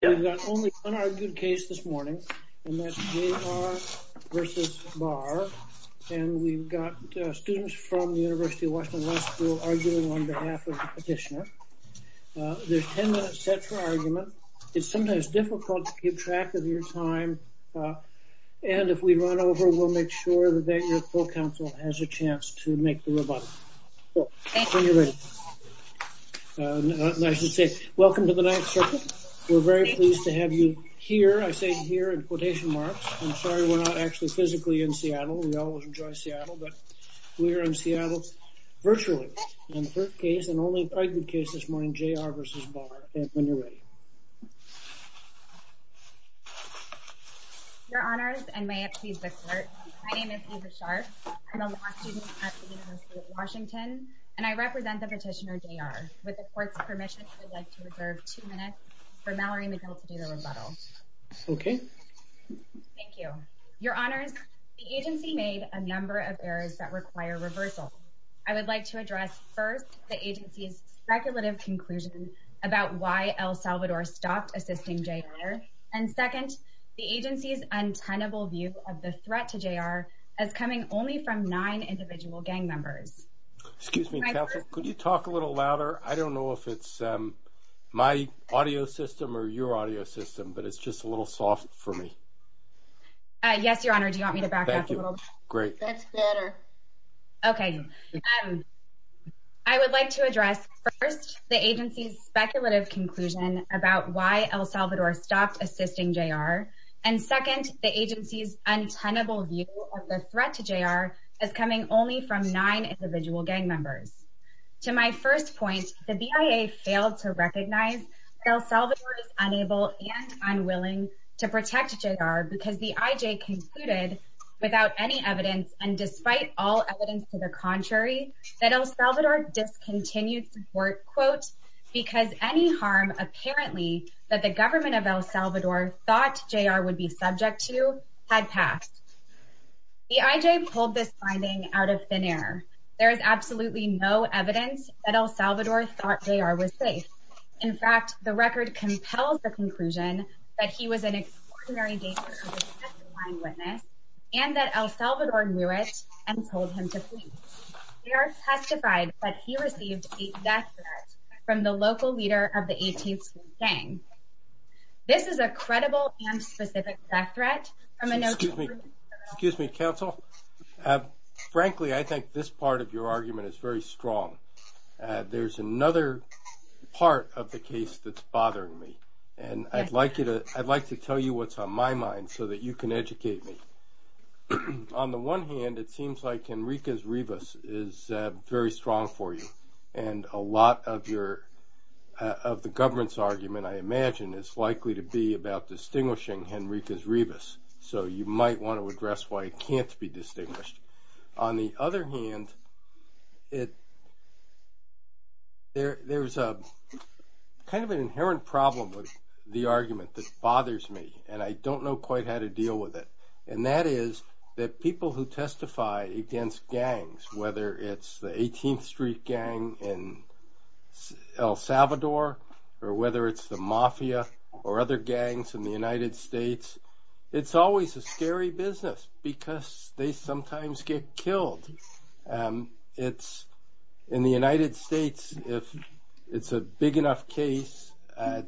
We've got only one argued case this morning, and that's J.R. v. Barr. And we've got students from the University of Washington Law School arguing on behalf of the petitioner. There's ten minutes set for argument. It's sometimes difficult to keep track of your time. And if we run over, we'll make sure that your full counsel has a chance to make the rebuttal. So, when you're ready. And I should say, welcome to the ninth circuit. We're very pleased to have you here. I say here in quotation marks. I'm sorry we're not actually physically in Seattle. We always enjoy Seattle, but we're in Seattle virtually. And the third case, and only argued case this morning, J.R. v. Barr. And when you're ready. Your honors, and may it please the court. My name is Eva Sharp. I'm a law student at the University of Washington. And I represent the petitioner, J.R. With the court's permission, I would like to reserve two minutes for Mallory McGill to do the rebuttal. Okay. Thank you. Your honors, the agency made a number of errors that require reversal. I would like to address first, the agency's speculative conclusion about why El Salvador stopped assisting J.R. And second, the agency's untenable view of the threat to J.R. as coming only from nine individual gang members. Excuse me, counsel, could you talk a little louder? I don't know if it's my audio system or your audio system, but it's just a little soft for me. Yes, your honor. Do you want me to back up a little? Thank you. Great. That's better. Okay. I would like to address first, the agency's speculative conclusion about why El Salvador stopped assisting J.R. And second, the agency's untenable view of the threat to J.R. as coming only from nine individual gang members. To my first point, the BIA failed to recognize that El Salvador is unable and unwilling to protect J.R. because the IJ concluded, without any evidence and despite all evidence to the contrary, that El Salvador discontinued support, quote, because any harm apparently that the government of El Salvador thought J.R. would be subject to had passed. The IJ pulled this finding out of thin air. There is absolutely no evidence that El Salvador thought J.R. was safe. In fact, the record compels the conclusion that he was an extraordinary gangster who was a testifying witness and that El Salvador knew it and told him to flee. J.R. testified that he received a death threat from the local leader of the 18th Street gang. This is a credible and specific death threat from a note- Excuse me. Excuse me, counsel. Frankly, I think this part of your argument is very strong. There's another part of the case that's bothering me, and I'd like to tell you what's on my mind so that you can educate me. On the one hand, it seems like Henriquez-Rivas is very strong for you, and a lot of the government's argument, I imagine, is likely to be about distinguishing Henriquez-Rivas, so you might want to address why it can't be distinguished. On the other hand, there's kind of an inherent problem with the argument that bothers me, and I don't know quite how to deal with it, and that is that people who testify against gangs, whether it's the 18th Street gang in El Salvador or whether it's the mafia or other gangs in the United States, it's always a scary business because they sometimes get killed. In the United States, if it's a big enough case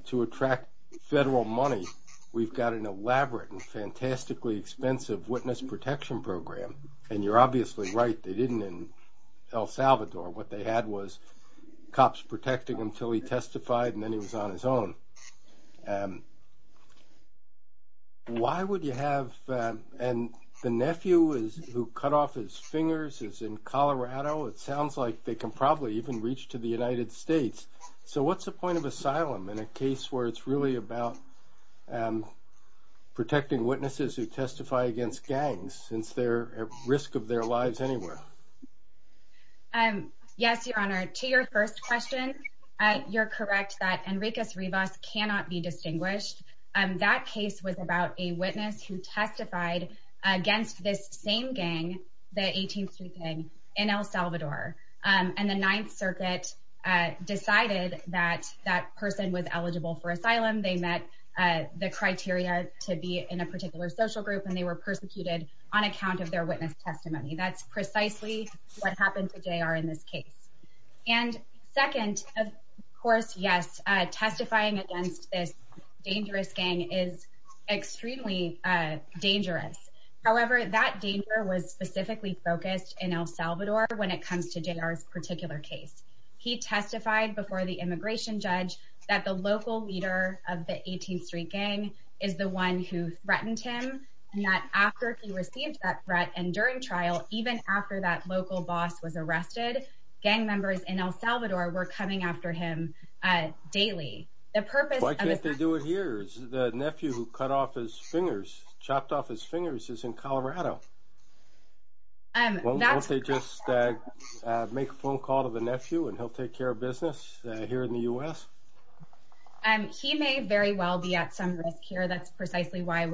to attract federal money, we've got an elaborate and fantastically expensive witness protection program, and you're obviously right. They didn't in El Salvador. What they had was cops protecting him until he testified, and then he was on his own. Why would you have – and the nephew who cut off his fingers is in Colorado. It sounds like they can probably even reach to the United States. So what's the point of asylum in a case where it's really about protecting witnesses who testify against gangs since they're at risk of their lives anywhere? Yes, Your Honor. To your first question, you're correct that Enriquez Rivas cannot be distinguished. That case was about a witness who testified against this same gang, the 18th Street gang in El Salvador, and the Ninth Circuit decided that that person was eligible for asylum. They met the criteria to be in a particular social group, and they were persecuted on account of their witness testimony. That's precisely what happened to J.R. in this case. And second, of course, yes, testifying against this dangerous gang is extremely dangerous. However, that danger was specifically focused in El Salvador when it comes to J.R.'s particular case. He testified before the immigration judge that the local leader of the 18th Street gang is the one who threatened him, and that after he received that threat and during trial, even after that local boss was arrested, gang members in El Salvador were coming after him daily. Why can't they do it here? The nephew who cut off his fingers, chopped off his fingers, is in Colorado. Won't they just make a phone call to the nephew and he'll take care of business here in the U.S.? He may very well be at some risk here. That's precisely why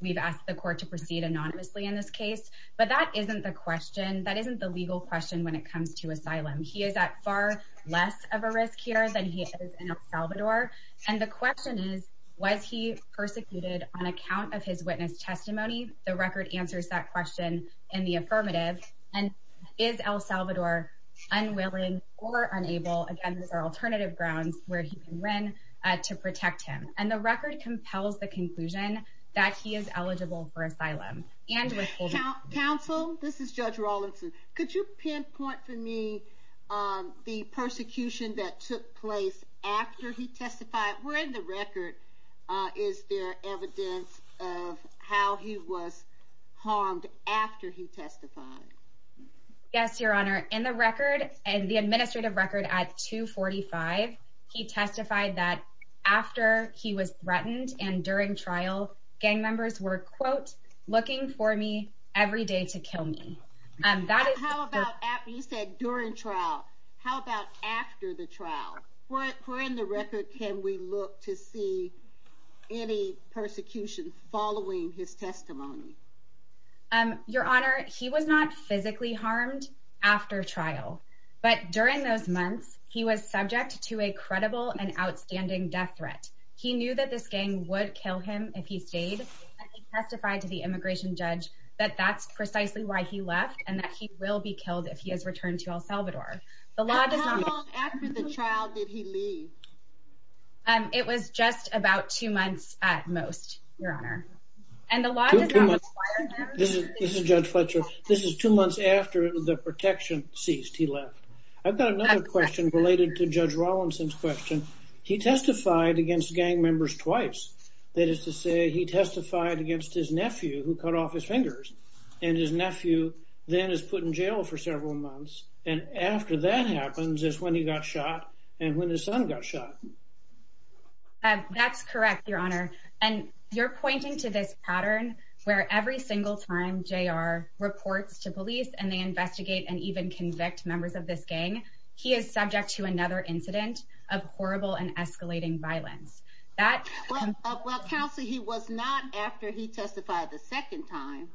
we've asked the court to proceed anonymously in this case. But that isn't the question. That isn't the legal question when it comes to asylum. He is at far less of a risk here than he is in El Salvador. And the question is, was he persecuted on account of his witness testimony? The record answers that question in the affirmative. And is El Salvador unwilling or unable, again, there are alternative grounds where he can win, to protect him. And the record compels the conclusion that he is eligible for asylum. Counsel, this is Judge Rawlinson. Could you pinpoint for me the persecution that took place after he testified? Where in the record is there evidence of how he was harmed after he testified? Yes, Your Honor. In the record, the administrative record at 245, he testified that after he was threatened and during trial, gang members were, quote, looking for me every day to kill me. You said during trial. How about after the trial? Where in the record can we look to see any persecution following his testimony? Your Honor, he was not physically harmed after trial. But during those months, he was subject to a credible and outstanding death threat. He knew that this gang would kill him if he stayed. He testified to the immigration judge that that's precisely why he left and that he will be killed if he is returned to El Salvador. How long after the trial did he leave? It was just about two months at most, Your Honor. This is Judge Fletcher. This is two months after the protection ceased, he left. I've got another question related to Judge Rawlinson's question. He testified against gang members twice. That is to say, he testified against his nephew who cut off his fingers. And his nephew then is put in jail for several months. And after that happens is when he got shot and when his son got shot. That's correct, Your Honor. And you're pointing to this pattern where every single time J.R. reports to police and they investigate and even convict members of this gang, he is subject to another incident of horrible and escalating violence. Well, Counsel, he was not after he testified the second time.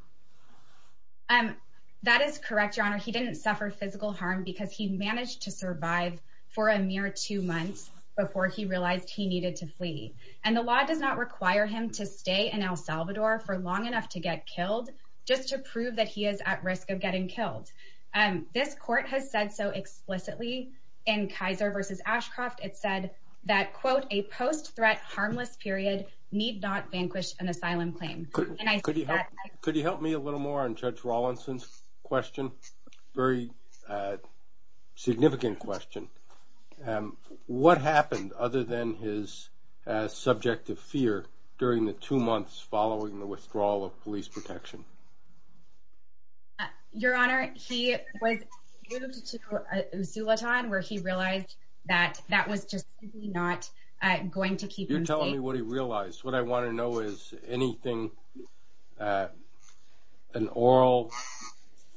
That is correct, Your Honor. He didn't suffer physical harm because he managed to survive for a mere two months before he realized he needed to flee. And the law does not require him to stay in El Salvador for long enough to get killed just to prove that he is at risk of getting killed. This court has said so explicitly in Kaiser v. Ashcroft. It said that, quote, a post-threat harmless period need not vanquish an asylum claim. Could you help me a little more on Judge Rawlinson's question? Very significant question. What happened other than his subject of fear during the two months following the withdrawal of police protection? Your Honor, he was moved to Zulaton where he realized that that was just not going to keep him safe. You're telling me what he realized. What I want to know is anything, an oral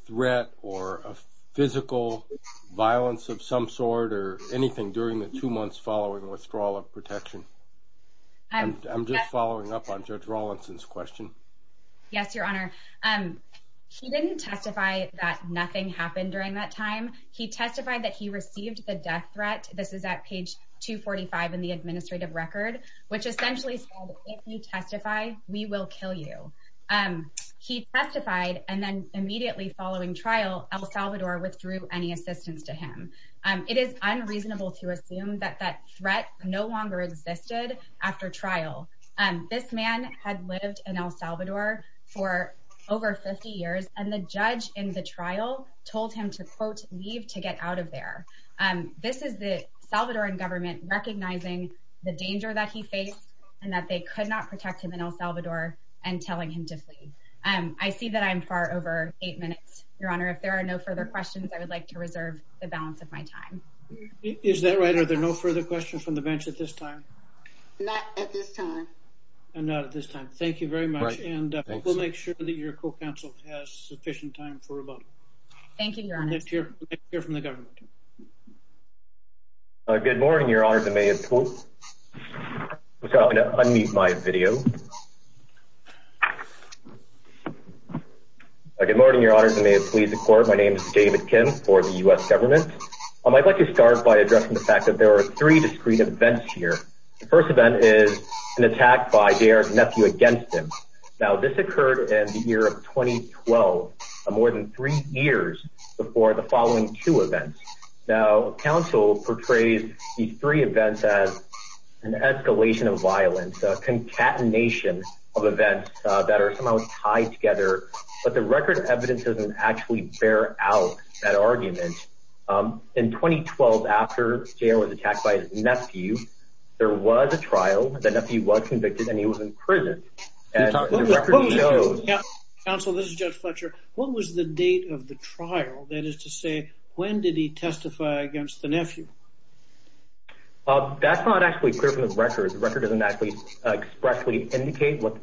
threat or a physical violence of some sort or anything during the two months following withdrawal of protection. I'm just following up on Judge Rawlinson's question. Yes, Your Honor. He didn't testify that nothing happened during that time. He testified that he received the death threat. This is at page 245 in the administrative record, which essentially said, if you testify, we will kill you. He testified, and then immediately following trial, El Salvador withdrew any assistance to him. It is unreasonable to assume that that threat no longer existed after trial. This man had lived in El Salvador for over 50 years, and the judge in the trial told him to, quote, leave to get out of there. This is the Salvadoran government recognizing the danger that he faced and that they could not protect him in El Salvador and telling him to leave. I see that I'm far over eight minutes, Your Honor. If there are no further questions, I would like to reserve the balance of my time. Is that right? Are there no further questions from the bench at this time? Not at this time. Not at this time. Thank you very much, and we'll make sure that your co-counsel has sufficient time for rebuttal. Thank you, Your Honor. Let's hear from the government. Good morning, Your Honor. I'm sorry, I'm going to unmute my video. Good morning, Your Honor. May it please the Court, my name is David Kim for the U.S. government. I'd like to start by addressing the fact that there are three discreet events here. The first event is an attack by J.R.'s nephew against him. Now, this occurred in the year of 2012, more than three years before the following two events. Now, counsel portrays these three events as an escalation of violence, a concatenation of events that are somehow tied together, but the record evidence doesn't actually bear out that argument. In 2012, after J.R. was attacked by his nephew, there was a trial. The nephew was convicted and he was in prison, and the record shows. Counsel, this is Judge Fletcher. What was the date of the trial? That is to say, when did he testify against the nephew? That's not actually clear from the record. The record doesn't actually expressly indicate what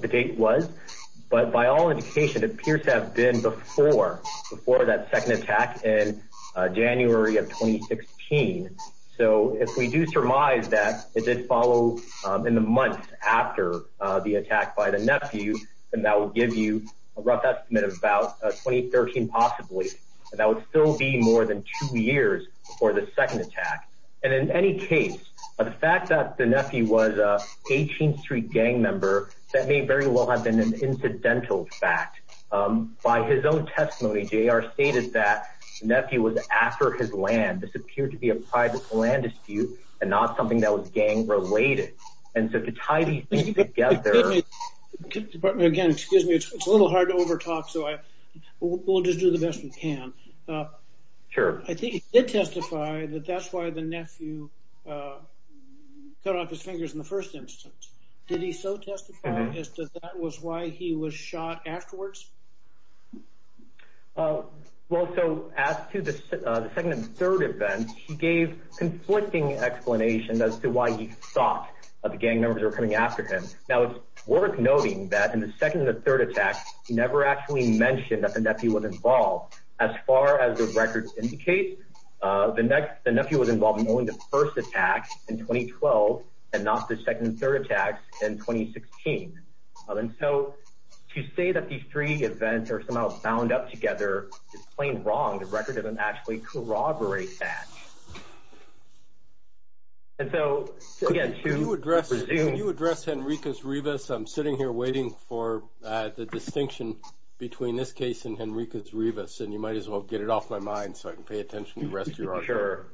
the date was, but by all indication, it appears to have been before that second attack in January of 2016. So if we do surmise that it did follow in the month after the attack by the nephew, then that will give you a rough estimate of about 2013 possibly, and that would still be more than two years before the second attack. And in any case, the fact that the nephew was an 18th Street gang member, that may very well have been an incidental fact. By his own testimony, J.R. stated that the nephew was after his land. This appeared to be a private land dispute and not something that was gang related. And so to tie these things together. Again, excuse me. It's a little hard to overtalk, so we'll just do the best we can. I think he did testify that that's why the nephew cut off his fingers in the first instance. Did he so testify as to that was why he was shot afterwards? Well, so as to the second and third events, he gave conflicting explanations as to why he thought the gang members were coming after him. Now, it's worth noting that in the second and third attacks, he never actually mentioned that the nephew was involved. As far as the record indicates, the nephew was involved in only the first attack in 2012 and not the second and third attacks in 2016. And so to say that these three events are somehow bound up together is plain wrong. The record doesn't actually corroborate that. And so, again, to resume. Could you address Henriquez-Rivas? I'm sitting here waiting for the distinction between this case and Henriquez-Rivas, and you might as well get it off my mind so I can pay attention to the rest of your honor. Sure.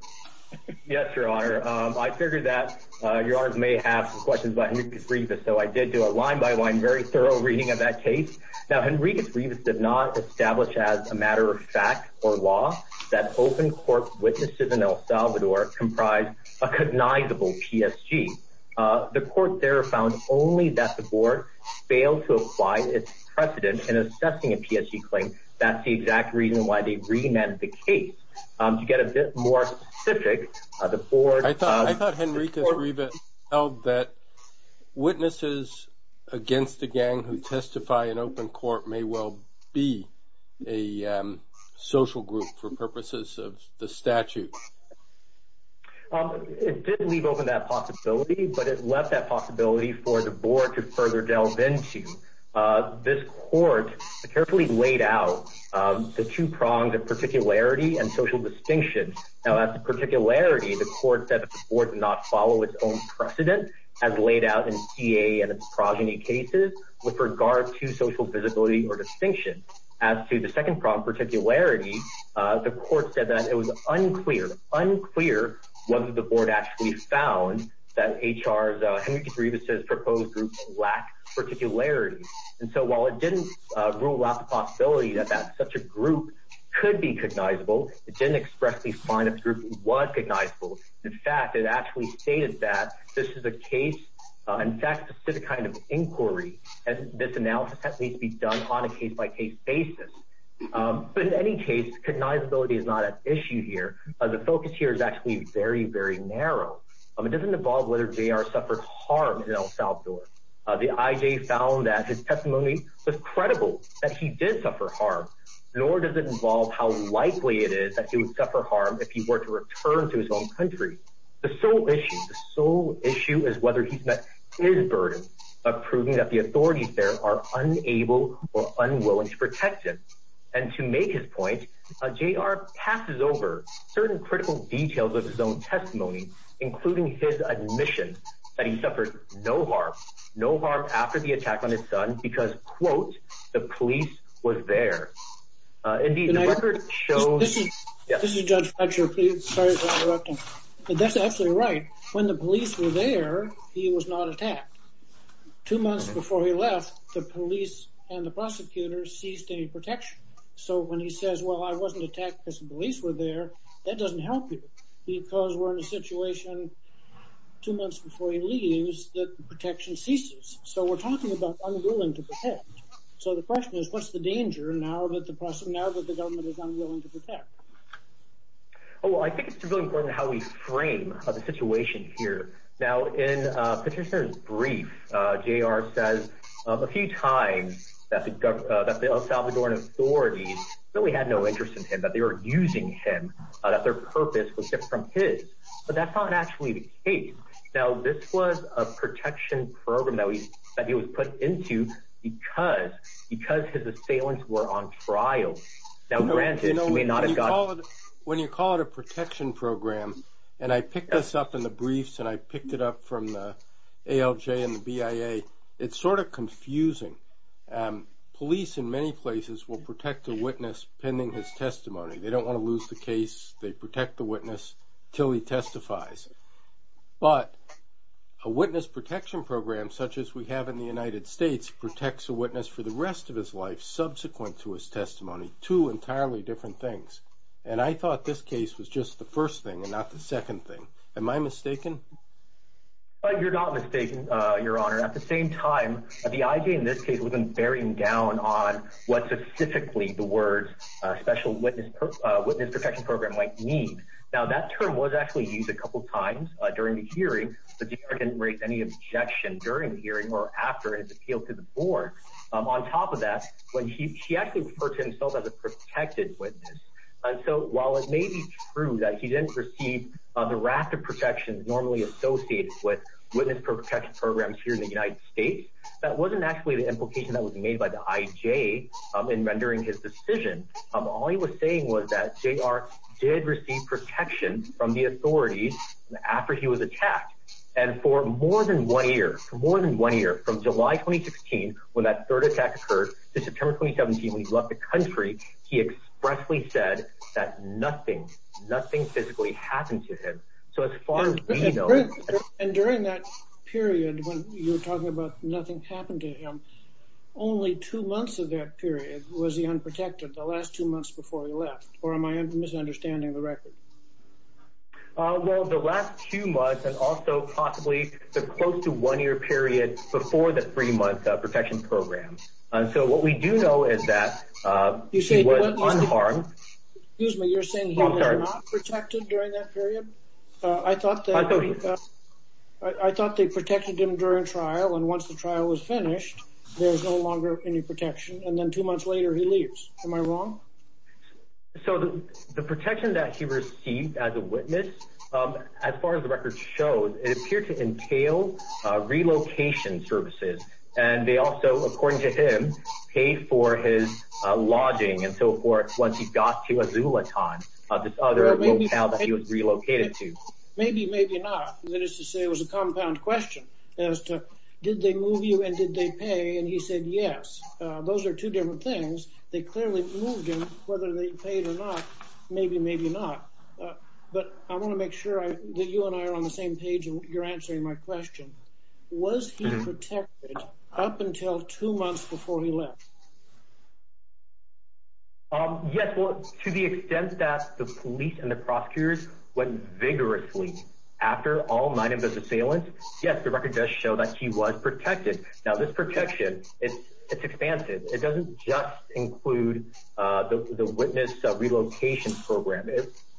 Yes, Your Honor. I figured that Your Honor may have some questions about Henriquez-Rivas, so I did do a line-by-line, very thorough reading of that case. Now, Henriquez-Rivas did not establish as a matter of fact or law that open court witnesses in El Salvador comprised a cognizable PSG. The court there found only that the board failed to apply its precedent in assessing a PSG claim. That's the exact reason why they re-ment the case. To get a bit more specific, the board— Witnesses against the gang who testify in open court may well be a social group for purposes of the statute. It did leave open that possibility, but it left that possibility for the board to further delve into. This court carefully laid out the two prongs of particularity and social distinction. Now, as to particularity, the court said that the board did not follow its own precedent as laid out in EA and its progeny cases with regard to social visibility or distinction. As to the second prong, particularity, the court said that it was unclear—unclear—whether the board actually found that HR's—Henriquez-Rivas' proposed group lacked particularity. And so while it didn't rule out the possibility that such a group could be cognizable, it didn't expressly find a group that was cognizable. In fact, it actually stated that this is a case—in fact, a specific kind of inquiry, and this analysis needs to be done on a case-by-case basis. But in any case, cognizability is not at issue here. The focus here is actually very, very narrow. It doesn't involve whether JR suffered harm in El Salvador. The IJ found that his testimony was credible that he did suffer harm, nor does it involve how likely it is that he would suffer harm if he were to return to his own country. The sole issue—the sole issue is whether he's met his burden of proving that the authorities there are unable or unwilling to protect him. And to make his point, JR passes over certain critical details of his own testimony, including his admission that he suffered no harm—no harm after the attack on his son because, quote, the police were there. Indeed, the record shows— This is Judge Fletcher. Sorry for interrupting. That's absolutely right. When the police were there, he was not attacked. Two months before he left, the police and the prosecutors ceased any protection. So when he says, well, I wasn't attacked because the police were there, that doesn't help you because we're in a situation two months before he leaves that the protection ceases. So we're talking about unwilling to protect. So the question is, what's the danger now that the government is unwilling to protect? Well, I think it's really important how we frame the situation here. Now, in Petitioner's brief, JR says a few times that the El Salvadoran authorities really had no interest in him, that they were using him, that their purpose was different from his. But that's not actually the case. Now, this was a protection program that he was put into because his assailants were on trial. Now, granted, he may not have gotten— When you call it a protection program, and I picked this up in the briefs and I picked it up from the ALJ and the BIA, it's sort of confusing. Police in many places will protect a witness pending his testimony. They don't want to lose the case. They protect the witness until he testifies. But a witness protection program such as we have in the United States protects a witness for the rest of his life subsequent to his testimony, two entirely different things. And I thought this case was just the first thing and not the second thing. Am I mistaken? You're not mistaken, Your Honor. At the same time, the IJ in this case was bearing down on what specifically the words special witness protection program might mean. Now, that term was actually used a couple times during the hearing, but the IJ didn't raise any objection during the hearing or after his appeal to the board. On top of that, she actually referred to himself as a protected witness. And so while it may be true that he didn't receive the raft of protections normally associated with the United States, that wasn't actually the implication that was made by the IJ in rendering his decision. All he was saying was that JR did receive protection from the authorities after he was attacked. And for more than one year, for more than one year, from July 2016, when that third attack occurred to September 2017, when he left the country, he expressly said that nothing, nothing physically happened to him. And during that period when you were talking about nothing happened to him, only two months of that period was he unprotected, the last two months before he left? Or am I misunderstanding the record? Well, the last two months and also possibly the close to one year period before the three-month protection program. And so what we do know is that he was unharmed. Excuse me, you're saying he was not protected during that period? I thought they protected him during trial. And once the trial was finished, there was no longer any protection. And then two months later, he leaves. Am I wrong? So the protection that he received as a witness, as far as the record shows, it appeared to entail relocation services. And they also, according to him, paid for his lodging and so forth once he got to Azulitan, this other motel that he was relocated to. Maybe, maybe not. That is to say, it was a compound question as to did they move you and did they pay? And he said yes. Those are two different things. They clearly moved him, whether they paid or not, maybe, maybe not. But I want to make sure that you and I are on the same page in your answering my question. Was he protected up until two months before he left? Yes. Well, to the extent that the police and the prosecutors went vigorously after all nine of the assailants, yes, the record does show that he was protected. Now, this protection, it's expansive. It doesn't just include the witness relocation program.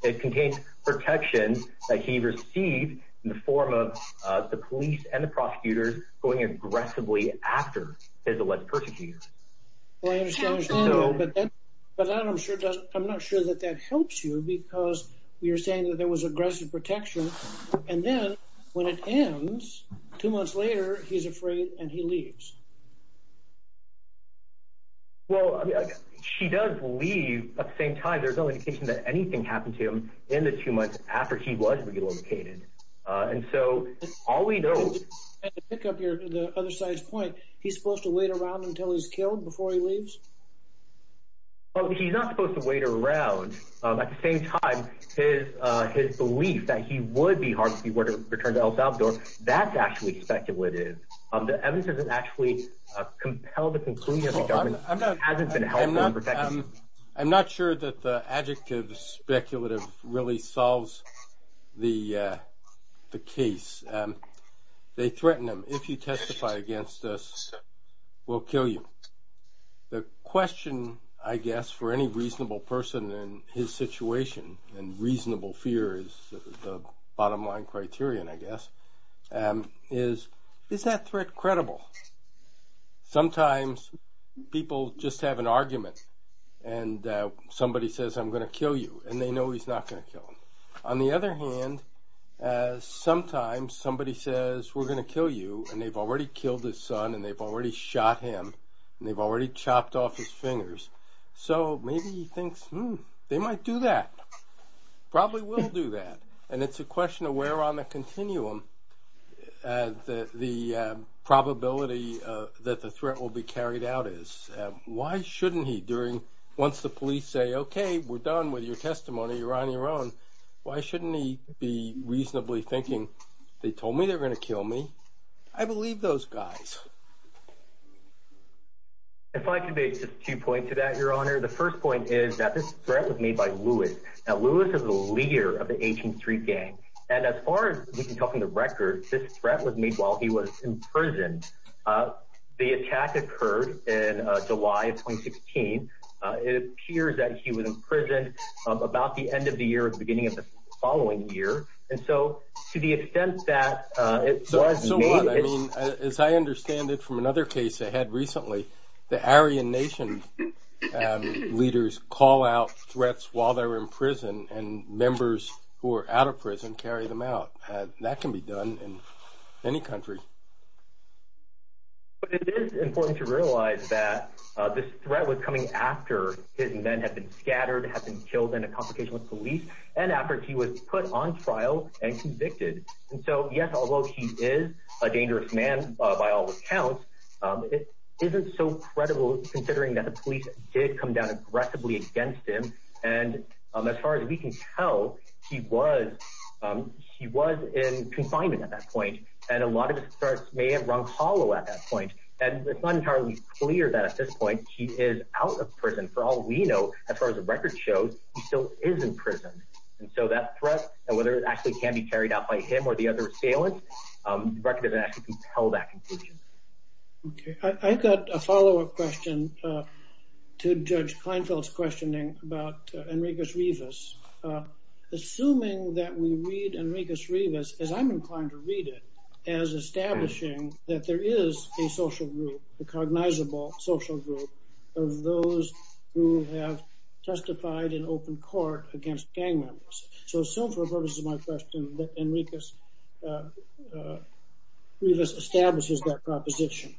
It contains protections that he received in the form of the police and the prosecutors going aggressively after his alleged persecutors. Well, I understand what you're saying, but I'm not sure that that helps you because you're saying that there was aggressive protection. And then when it ends, two months later, he's afraid and he leaves. Well, she does leave at the same time. There's no indication that anything happened to him in the two months after he was relocated. And so all we know— And to pick up your other side's point, he's supposed to wait around until he's killed before he leaves? Well, he's not supposed to wait around. At the same time, his belief that he would be hard to see were to return to El Salvador, that's actually speculative. The evidence doesn't actually compel the conclusion that the government hasn't been helpful in protecting him. I'm not sure that the adjective speculative really solves the case. They threaten him, if you testify against us, we'll kill you. The question, I guess, for any reasonable person in his situation, and reasonable fear is the bottom line criterion, I guess, is, is that threat credible? Sometimes people just have an argument and somebody says, I'm going to kill you, and they know he's not going to kill them. On the other hand, sometimes somebody says, we're going to kill you, and they've already killed his son and they've already shot him, and they've already chopped off his fingers. So maybe he thinks, hmm, they might do that, probably will do that. And it's a question of where on the continuum the probability that the threat will be carried out is. Why shouldn't he, once the police say, okay, we're done with your testimony, you're on your own, why shouldn't he be reasonably thinking, they told me they were going to kill me, I believe those guys. If I could make just two points to that, Your Honor. The first point is that this threat was made by Lewis. Now, Lewis is the leader of the 18th Street Gang, and as far as we can tell from the record, this threat was made while he was in prison. The attack occurred in July of 2016. It appears that he was imprisoned about the end of the year or the beginning of the following year. And so to the extent that it was made. So what, I mean, as I understand it from another case I had recently, the Aryan Nation leaders call out threats while they're in prison, and members who are out of prison carry them out. That can be done in any country. But it is important to realize that this threat was coming after his men had been scattered, had been killed in a complication with police, and after he was put on trial and convicted. And so, yes, although he is a dangerous man by all accounts, it isn't so credible considering that the police did come down aggressively against him. And as far as we can tell, he was in confinement at that point, and a lot of threats may have rung hollow at that point. And it's not entirely clear that at this point he is out of prison. For all we know, as far as the record shows, he still is in prison. And so that threat, whether it actually can be carried out by him or the other assailants, the record doesn't actually compel that conclusion. Okay. I've got a follow-up question to Judge Kleinfeld's questioning about Enriquez-Rivas. Assuming that we read Enriquez-Rivas, as I'm inclined to read it, as establishing that there is a social group, a cognizable social group, of those who have testified in open court against gang members. So, for the purposes of my question, Enriquez-Rivas establishes that proposition.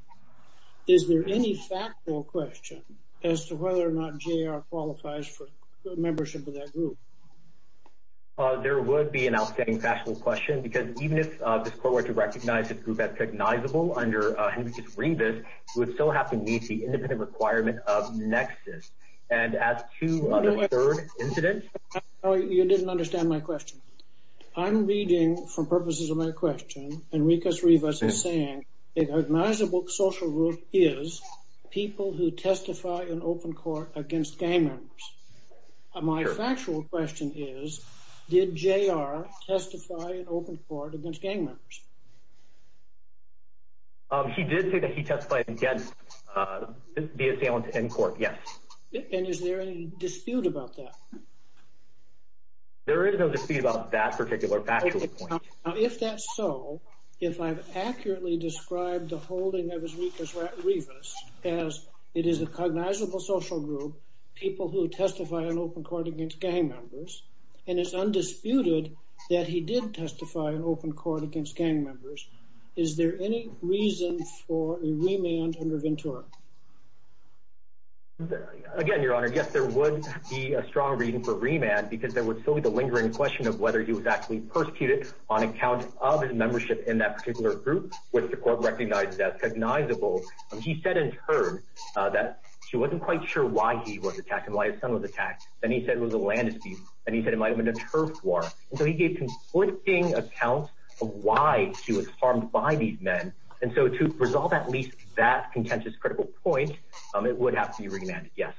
Is there any factual question as to whether or not J.R. qualifies for membership of that group? There would be an outstanding factual question, because even if this court were to recognize this group as recognizable under Enriquez-Rivas, it would still have to meet the independent requirement of Nexus. And as to the third incident… You didn't understand my question. I'm reading, for purposes of my question, Enriquez-Rivas is saying that a cognizable social group is people who testify in open court against gang members. My factual question is, did J.R. testify in open court against gang members? He did say that he testified against the assailant in court, yes. And is there any dispute about that? There is no dispute about that particular factual point. If that's so, if I've accurately described the holding of Enriquez-Rivas as it is a cognizable social group, people who testify in open court against gang members, and it's undisputed that he did testify in open court against gang members, is there any reason for a remand under Ventura? Again, Your Honor, yes, there would be a strong reason for remand, because there would still be the lingering question of whether he was actually persecuted on account of his membership in that particular group, which the court recognized as cognizable. He said in turn that she wasn't quite sure why he was attacked and why his son was attacked. And he said it was a land dispute, and he said it might have been a turf war. And so he gave conflicting accounts of why she was harmed by these men. And so to resolve at least that contentious critical point, it would have to be remanded, yes.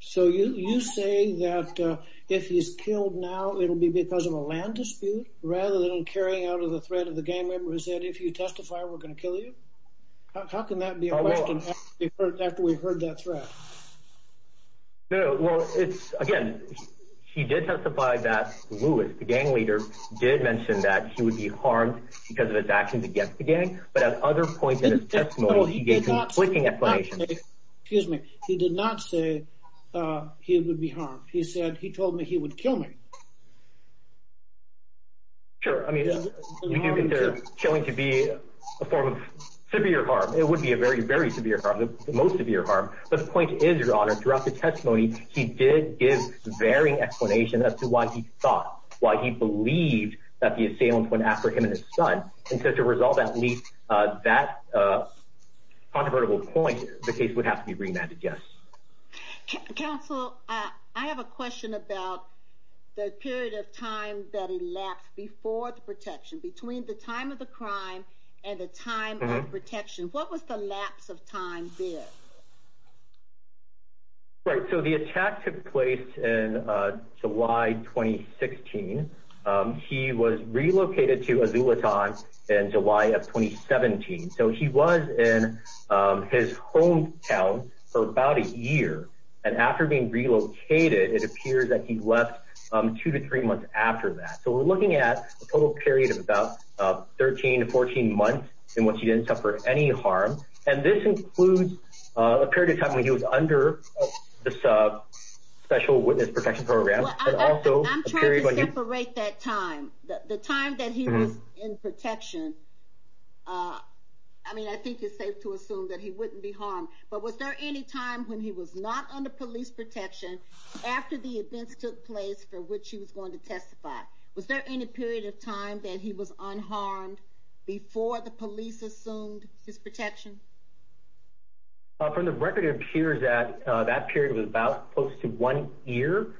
So you say that if he's killed now, it'll be because of a land dispute, rather than carrying out of the threat of the gang member who said, if you testify, we're going to kill you? How can that be a question after we've heard that threat? Well, again, he did testify that Lewis, the gang leader, did mention that he would be harmed because of his actions against the gang. But at other points in his testimony, he gave conflicting explanations. Excuse me, he did not say he would be harmed. He said he told me he would kill me. Sure, I mean, we do consider killing to be a form of severe harm. It would be a very, very severe harm, the most severe harm. But the point is, Your Honor, throughout the testimony, he did give varying explanations as to why he thought, why he believed that the assailants went after him and his son. And so to resolve at least that controvertible point, the case would have to be remanded, yes. Counsel, I have a question about the period of time that elapsed before the protection, between the time of the crime and the time of protection. What was the lapse of time there? Right, so the attack took place in July 2016. He was relocated to Azulitan in July of 2017. So he was in his hometown for about a year. And after being relocated, it appears that he left two to three months after that. So we're looking at a total period of about 13 to 14 months in which he didn't suffer any harm. And this includes a period of time when he was under this special witness protection program. I'm trying to separate that time. The time that he was in protection, I mean, I think it's safe to assume that he wouldn't be harmed. But was there any time when he was not under police protection, after the events took place for which he was going to testify? Was there any period of time that he was unharmed before the police assumed his protection? From the record, it appears that that period was about close to one year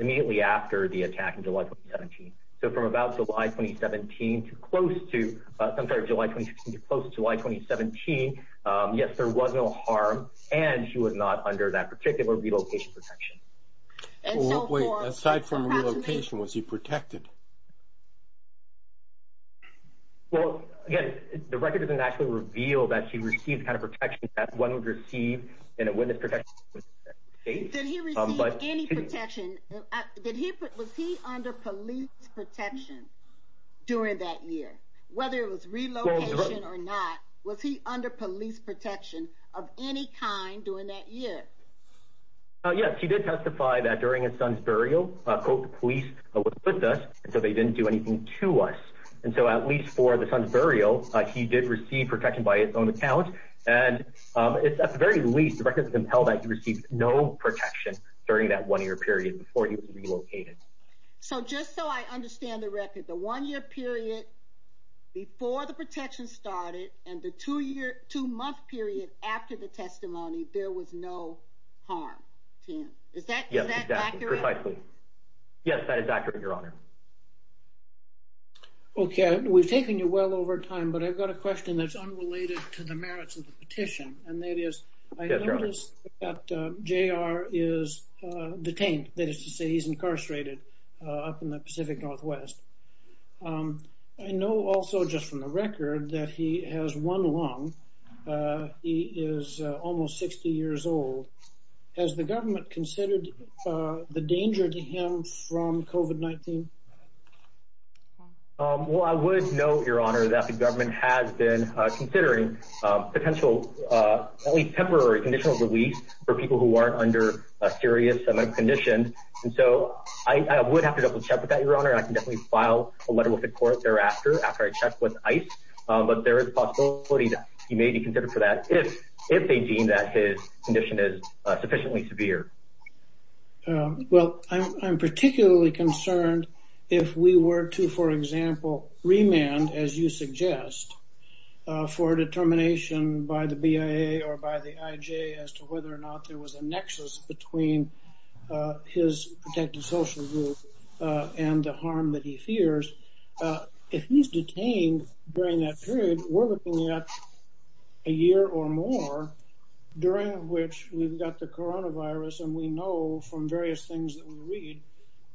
immediately after the attack in July 2017. So from about July 2017 to close to—I'm sorry, July 2016 to close to July 2017, yes, there was no harm, and he was not under that particular relocation protection. Wait, aside from relocation, was he protected? Well, again, the record doesn't actually reveal that he received the kind of protection that one would receive in a witness protection case. Did he receive any protection? Was he under police protection during that year, whether it was relocation or not? Was he under police protection of any kind during that year? Yes, he did testify that during his son's burial, quote, the police were with us, and so they didn't do anything to us. And so at least for the son's burial, he did receive protection by his own account. And at the very least, the record doesn't tell that he received no protection during that one-year period before he was relocated. So just so I understand the record, the one-year period before the protection started and the two-month period after the testimony, there was no harm, Tim. Is that accurate? Yes, exactly, precisely. Yes, that is accurate, Your Honor. Okay, we've taken you well over time, but I've got a question that's unrelated to the merits of the petition, and that is, I noticed that J.R. is detained. That is to say he's incarcerated up in the Pacific Northwest. I know also just from the record that he has one lung. He is almost 60 years old. Has the government considered the danger to him from COVID-19? Well, I would note, Your Honor, that the government has been considering potential at least temporary conditional release for people who aren't under a serious condition, and so I would have to double-check with that, Your Honor, and I can definitely file a letter with the court thereafter after I check with ICE, but there is a possibility that he may be considered for that if they deem that his condition is sufficiently severe. Well, I'm particularly concerned if we were to, for example, remand, as you suggest, for a determination by the BIA or by the IJ as to whether or not there was a nexus between his protected social group and the harm that he fears. If he's detained during that period, we're looking at a year or more during which we've got the coronavirus, and we know from various things that we read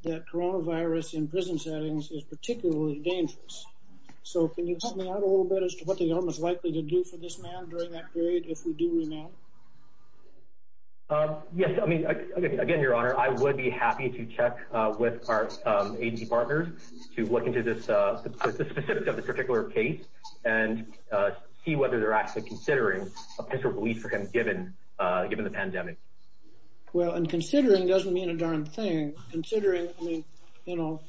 that coronavirus in prison settings is particularly dangerous. So can you help me out a little bit as to what the government's likely to do for this man during that period if we do remand? Yes, I mean, again, Your Honor, I would be happy to check with our agency partners to look into the specifics of this particular case and see whether they're actually considering a potential release for him given the pandemic. Well, and considering doesn't mean a darn thing. Considering, I mean, you know,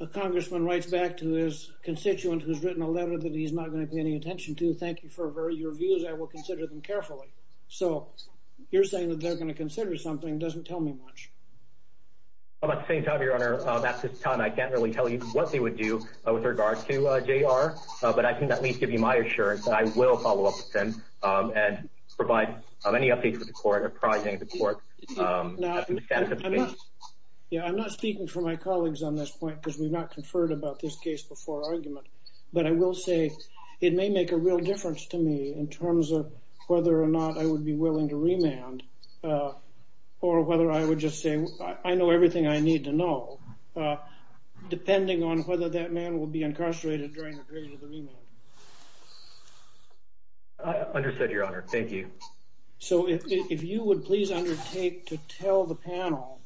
a congressman writes back to his constituent who's written a letter that he's not going to pay any attention to, saying thank you for your views, I will consider them carefully. So you're saying that they're going to consider something doesn't tell me much. At the same time, Your Honor, that's his time. I can't really tell you what they would do with regards to JR, but I can at least give you my assurance that I will follow up with him and provide any updates with the court, apprising the court. I'm not speaking for my colleagues on this point because we've not conferred about this case before argument. But I will say it may make a real difference to me in terms of whether or not I would be willing to remand or whether I would just say I know everything I need to know, depending on whether that man will be incarcerated during the period of the remand. Understood, Your Honor. Thank you. So if you would please undertake to tell the panel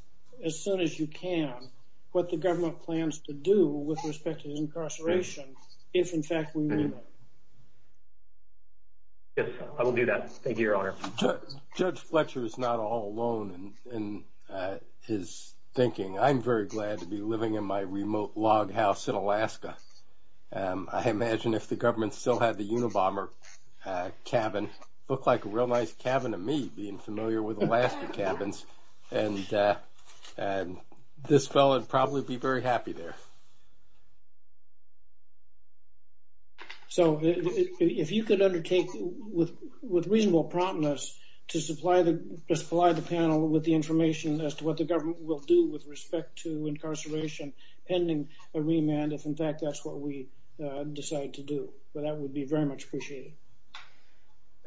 as soon as you can what the I will do that. Thank you, Your Honor. Judge Fletcher is not all alone in his thinking. I'm very glad to be living in my remote log house in Alaska. I imagine if the government still had the Unabomber cabin, it would look like a real nice cabin to me, being familiar with Alaska cabins, and this fellow would probably be very happy there. So if you could undertake with reasonable promptness to supply the panel with the information as to what the government will do with respect to incarceration pending a remand, if, in fact, that's what we decide to do. That would be very much appreciated.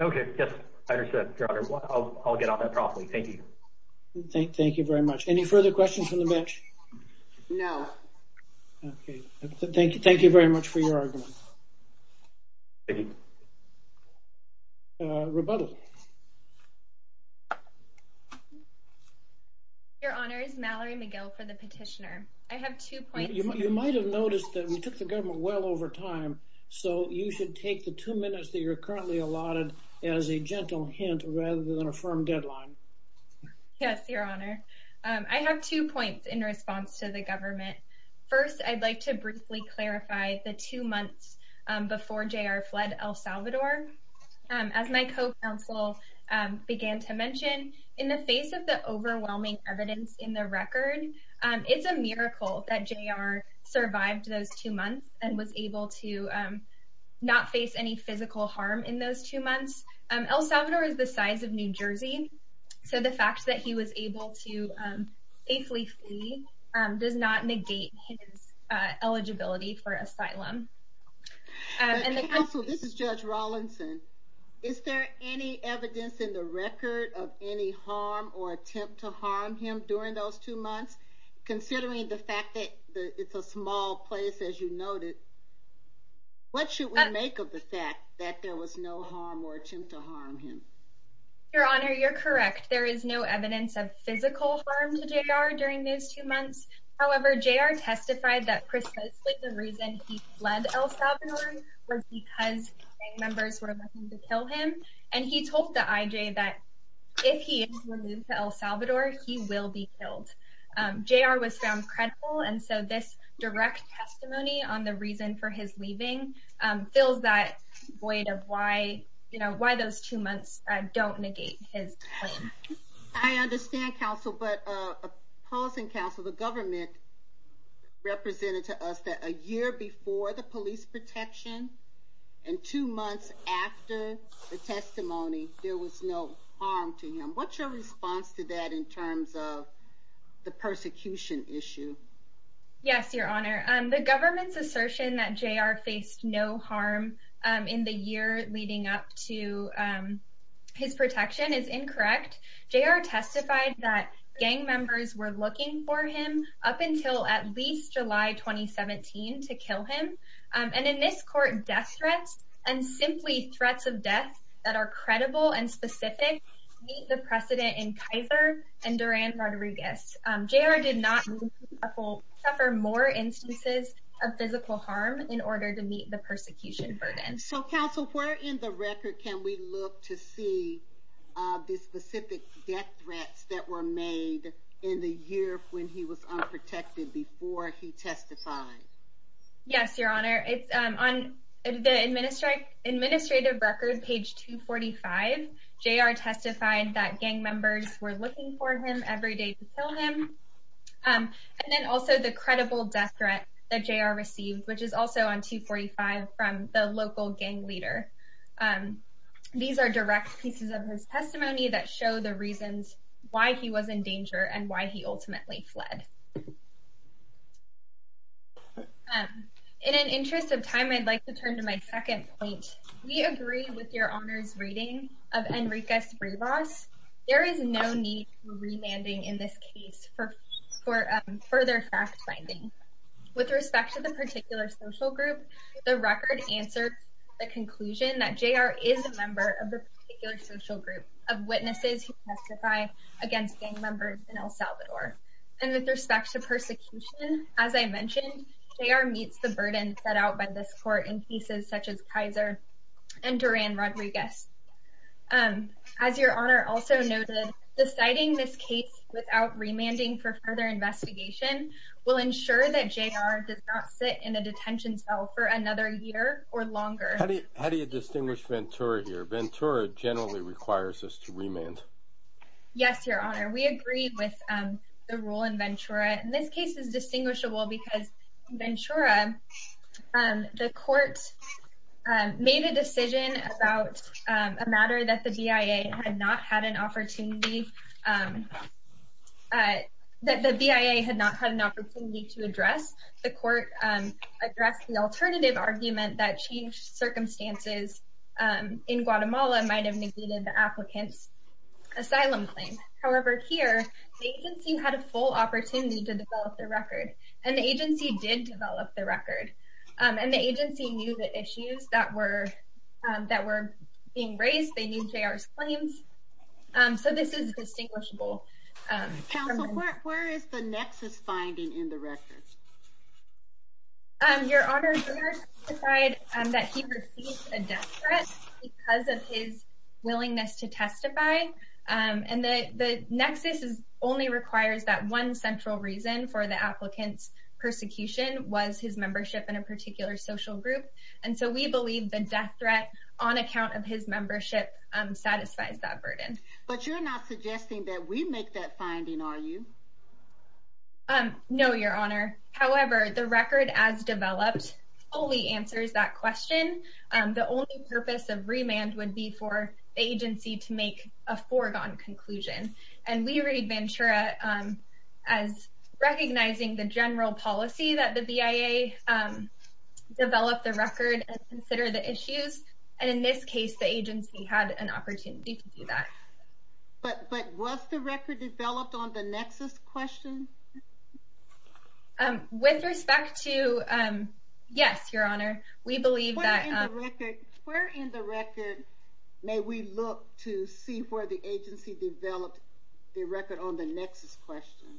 Okay. Yes, I understand, Your Honor. I'll get on that properly. Thank you. Thank you very much. Any further questions from the bench? No. Okay. Thank you very much for your argument. Thank you. Rebuttal. Your Honor, it's Mallory McGill for the petitioner. I have two points. You might have noticed that we took the government well over time, so you should take the two minutes that you're currently allotted as a gentle hint rather than a firm deadline. Yes, Your Honor. I have two points in response to the government. First, I'd like to briefly clarify the two months before J.R. fled El Salvador. As my co-counsel began to mention, in the face of the overwhelming evidence in the record, it's a miracle that J.R. survived those two months and was able to not face any physical harm in those two months. El Salvador is the size of New Jersey, so the fact that he was able to safely flee does not negate his eligibility for asylum. Counsel, this is Judge Rawlinson. Is there any evidence in the record of any harm or attempt to harm him during those two months? Considering the fact that it's a small place, as you noted, what should we make of the fact that there was no harm or attempt to harm him? Your Honor, you're correct. There is no evidence of physical harm to J.R. during those two months. However, J.R. testified that precisely the reason he fled El Salvador was because gang members were looking to kill him, and he told the IJ that if he is removed to El Salvador, he will be killed. J.R. was found credible, and so this direct testimony on the reason for his leaving fills that void of why those two months don't negate his claim. I understand, Counsel, but pausing, Counsel, the government represented to us that a year before the police protection and two months after the testimony, there was no harm to him. What's your response to that in terms of the persecution issue? Yes, Your Honor. The government's assertion that J.R. faced no harm in the year leading up to his protection is incorrect. J.R. testified that gang members were looking for him up until at least July 2017 to kill him, and in this court, death threats and simply threats of death that are credible and specific meet the precedent in Kaiser and Duran Rodriguez. J.R. did not suffer more instances of physical harm in order to meet the persecution burden. So, Counsel, where in the record can we look to see the specific death threats that were made in the year when he was unprotected before he testified? Yes, Your Honor. On the administrative record, page 245, J.R. testified that gang members were looking for him every day to kill him, and then also the credible death threat that J.R. received, which is also on 245 from the local gang leader. These are direct pieces of his testimony that show the reasons why he was in danger and why he ultimately fled. In an interest of time, I'd like to turn to my second point. We agree with Your Honor's reading of Enriquez-Rivas. There is no need for remanding in this case for further fact-finding. With respect to the particular social group, the record answers the conclusion that J.R. is a member of the particular social group of witnesses who testify against gang members in El Salvador. And with respect to persecution, as I mentioned, J.R. meets the burden set out by this court in cases such as Kaiser and Duran Rodriguez. As Your Honor also noted, deciding this case without remanding for further investigation will ensure that J.R. does not sit in a detention cell for another year or longer. How do you distinguish Ventura here? Ventura generally requires us to remand. Yes, Your Honor. We agree with the rule in Ventura. And this case is distinguishable because Ventura, the court made a decision about a matter that the BIA had not had an opportunity to address. The court addressed the alternative argument that changed circumstances in Guatemala might have negated the applicant's asylum claim. However, here, the agency had a full opportunity to develop the record. And the agency did develop the record. And the agency knew the issues that were being raised. They knew J.R.'s claims. So this is distinguishable. Counsel, where is the nexus finding in the record? Your Honor, J.R. testified that he received a death threat because of his willingness to testify. And the nexus only requires that one central reason for the applicant's persecution was his membership in a particular social group. And so we believe the death threat on account of his membership satisfies that burden. But you're not suggesting that we make that finding, are you? No, Your Honor. However, the record as developed fully answers that question. The only purpose of remand would be for the agency to make a foregone conclusion. And we read Ventura as recognizing the general policy that the BIA developed the record and considered the issues. And in this case, the agency had an opportunity to do that. But was the record developed on the nexus question? With respect to, yes, Your Honor. Where in the record may we look to see where the agency developed the record on the nexus question?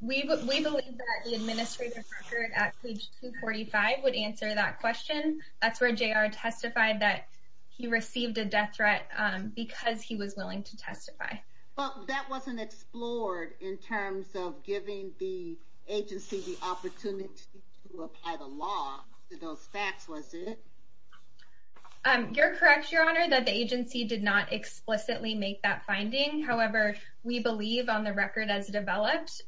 We believe that the administrative record at page 245 would answer that question. That's where J.R. testified that he received a death threat because he was willing to testify. Well, that wasn't explored in terms of giving the agency the opportunity to testify to those facts, was it? You're correct, Your Honor, that the agency did not explicitly make that finding. However, we believe on the record as developed,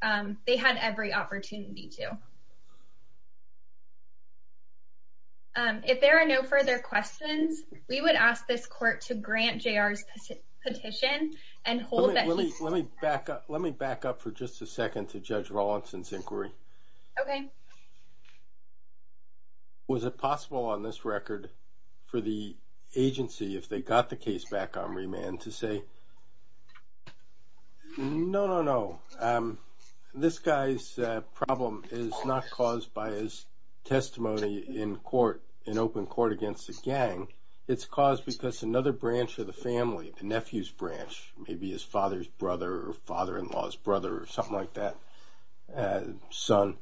they had every opportunity to. If there are no further questions, we would ask this court to grant J.R.'s petition and hold that he Okay. Was it possible on this record for the agency, if they got the case back on remand, to say, no, no, no, this guy's problem is not caused by his testimony in court, in open court against the gang, it's caused because another branch of the family, the nephew's branch, maybe his father's brother or father-in-law's something like that, son,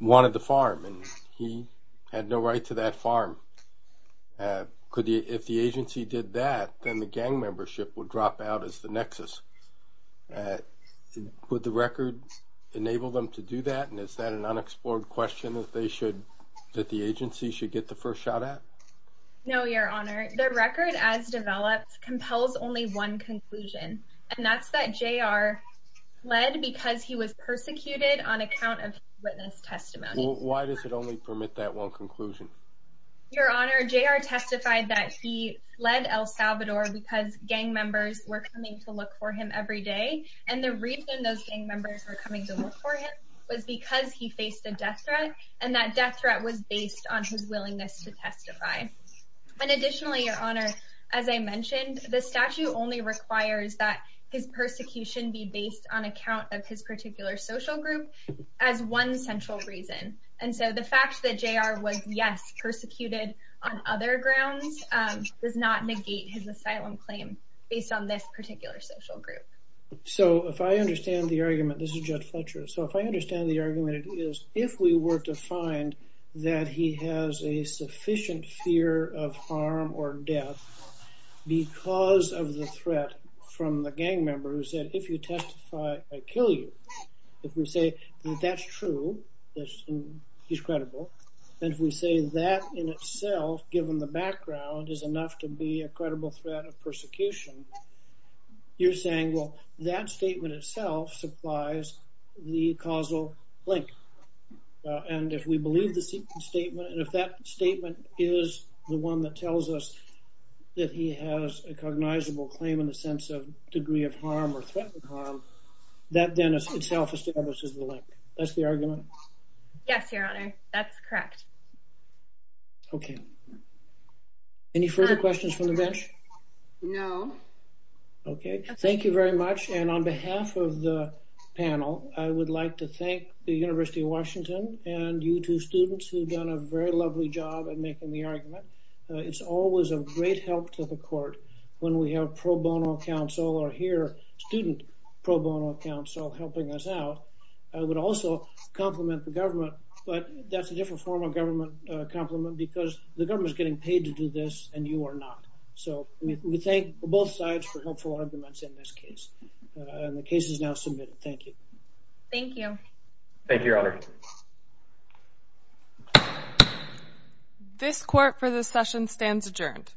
wanted the farm and he had no right to that farm. If the agency did that, then the gang membership would drop out as the nexus. Would the record enable them to do that? And is that an unexplored question that the agency should get the first shot at? No, Your Honor. The record as developed compels only one conclusion, and that's that J.R. fled because he was persecuted on account of his witness testimony. Why does it only permit that one conclusion? Your Honor, J.R. testified that he fled El Salvador because gang members were coming to look for him every day, and the reason those gang members were coming to look for him was because he faced a death threat, and that death threat was based on his willingness to testify. And additionally, Your Honor, as I mentioned, the statute only requires that his persecution be based on account of his particular social group as one central reason. And so the fact that J.R. was, yes, persecuted on other grounds does not negate his asylum claim based on this particular social group. So if I understand the argument, this is Judd Fletcher, so if I understand the find that he has a sufficient fear of harm or death because of the threat from the gang member who said, if you testify, I kill you. If we say that that's true, he's credible, and if we say that in itself, given the background, is enough to be a credible threat of persecution, you're saying, well, that statement itself supplies the causal link. And if we believe the statement, and if that statement is the one that tells us that he has a cognizable claim in the sense of degree of harm or threat of harm, that then itself establishes the link. That's the argument? Yes, Your Honor. That's correct. Okay. Any further questions from the bench? No. Okay. Thank you very much. And on behalf of the panel, I would like to thank the University of Washington and you two students who've done a very lovely job at making the argument. It's always a great help to the court when we have pro bono counsel or hear student pro bono counsel helping us out. I would also compliment the government, but that's a different form of government compliment because the government is getting paid to do this and you are not. So we thank both sides for helpful arguments in this case. The case is now submitted. Thank you. Thank you. Thank you, Your Honor. This court for this session stands adjourned.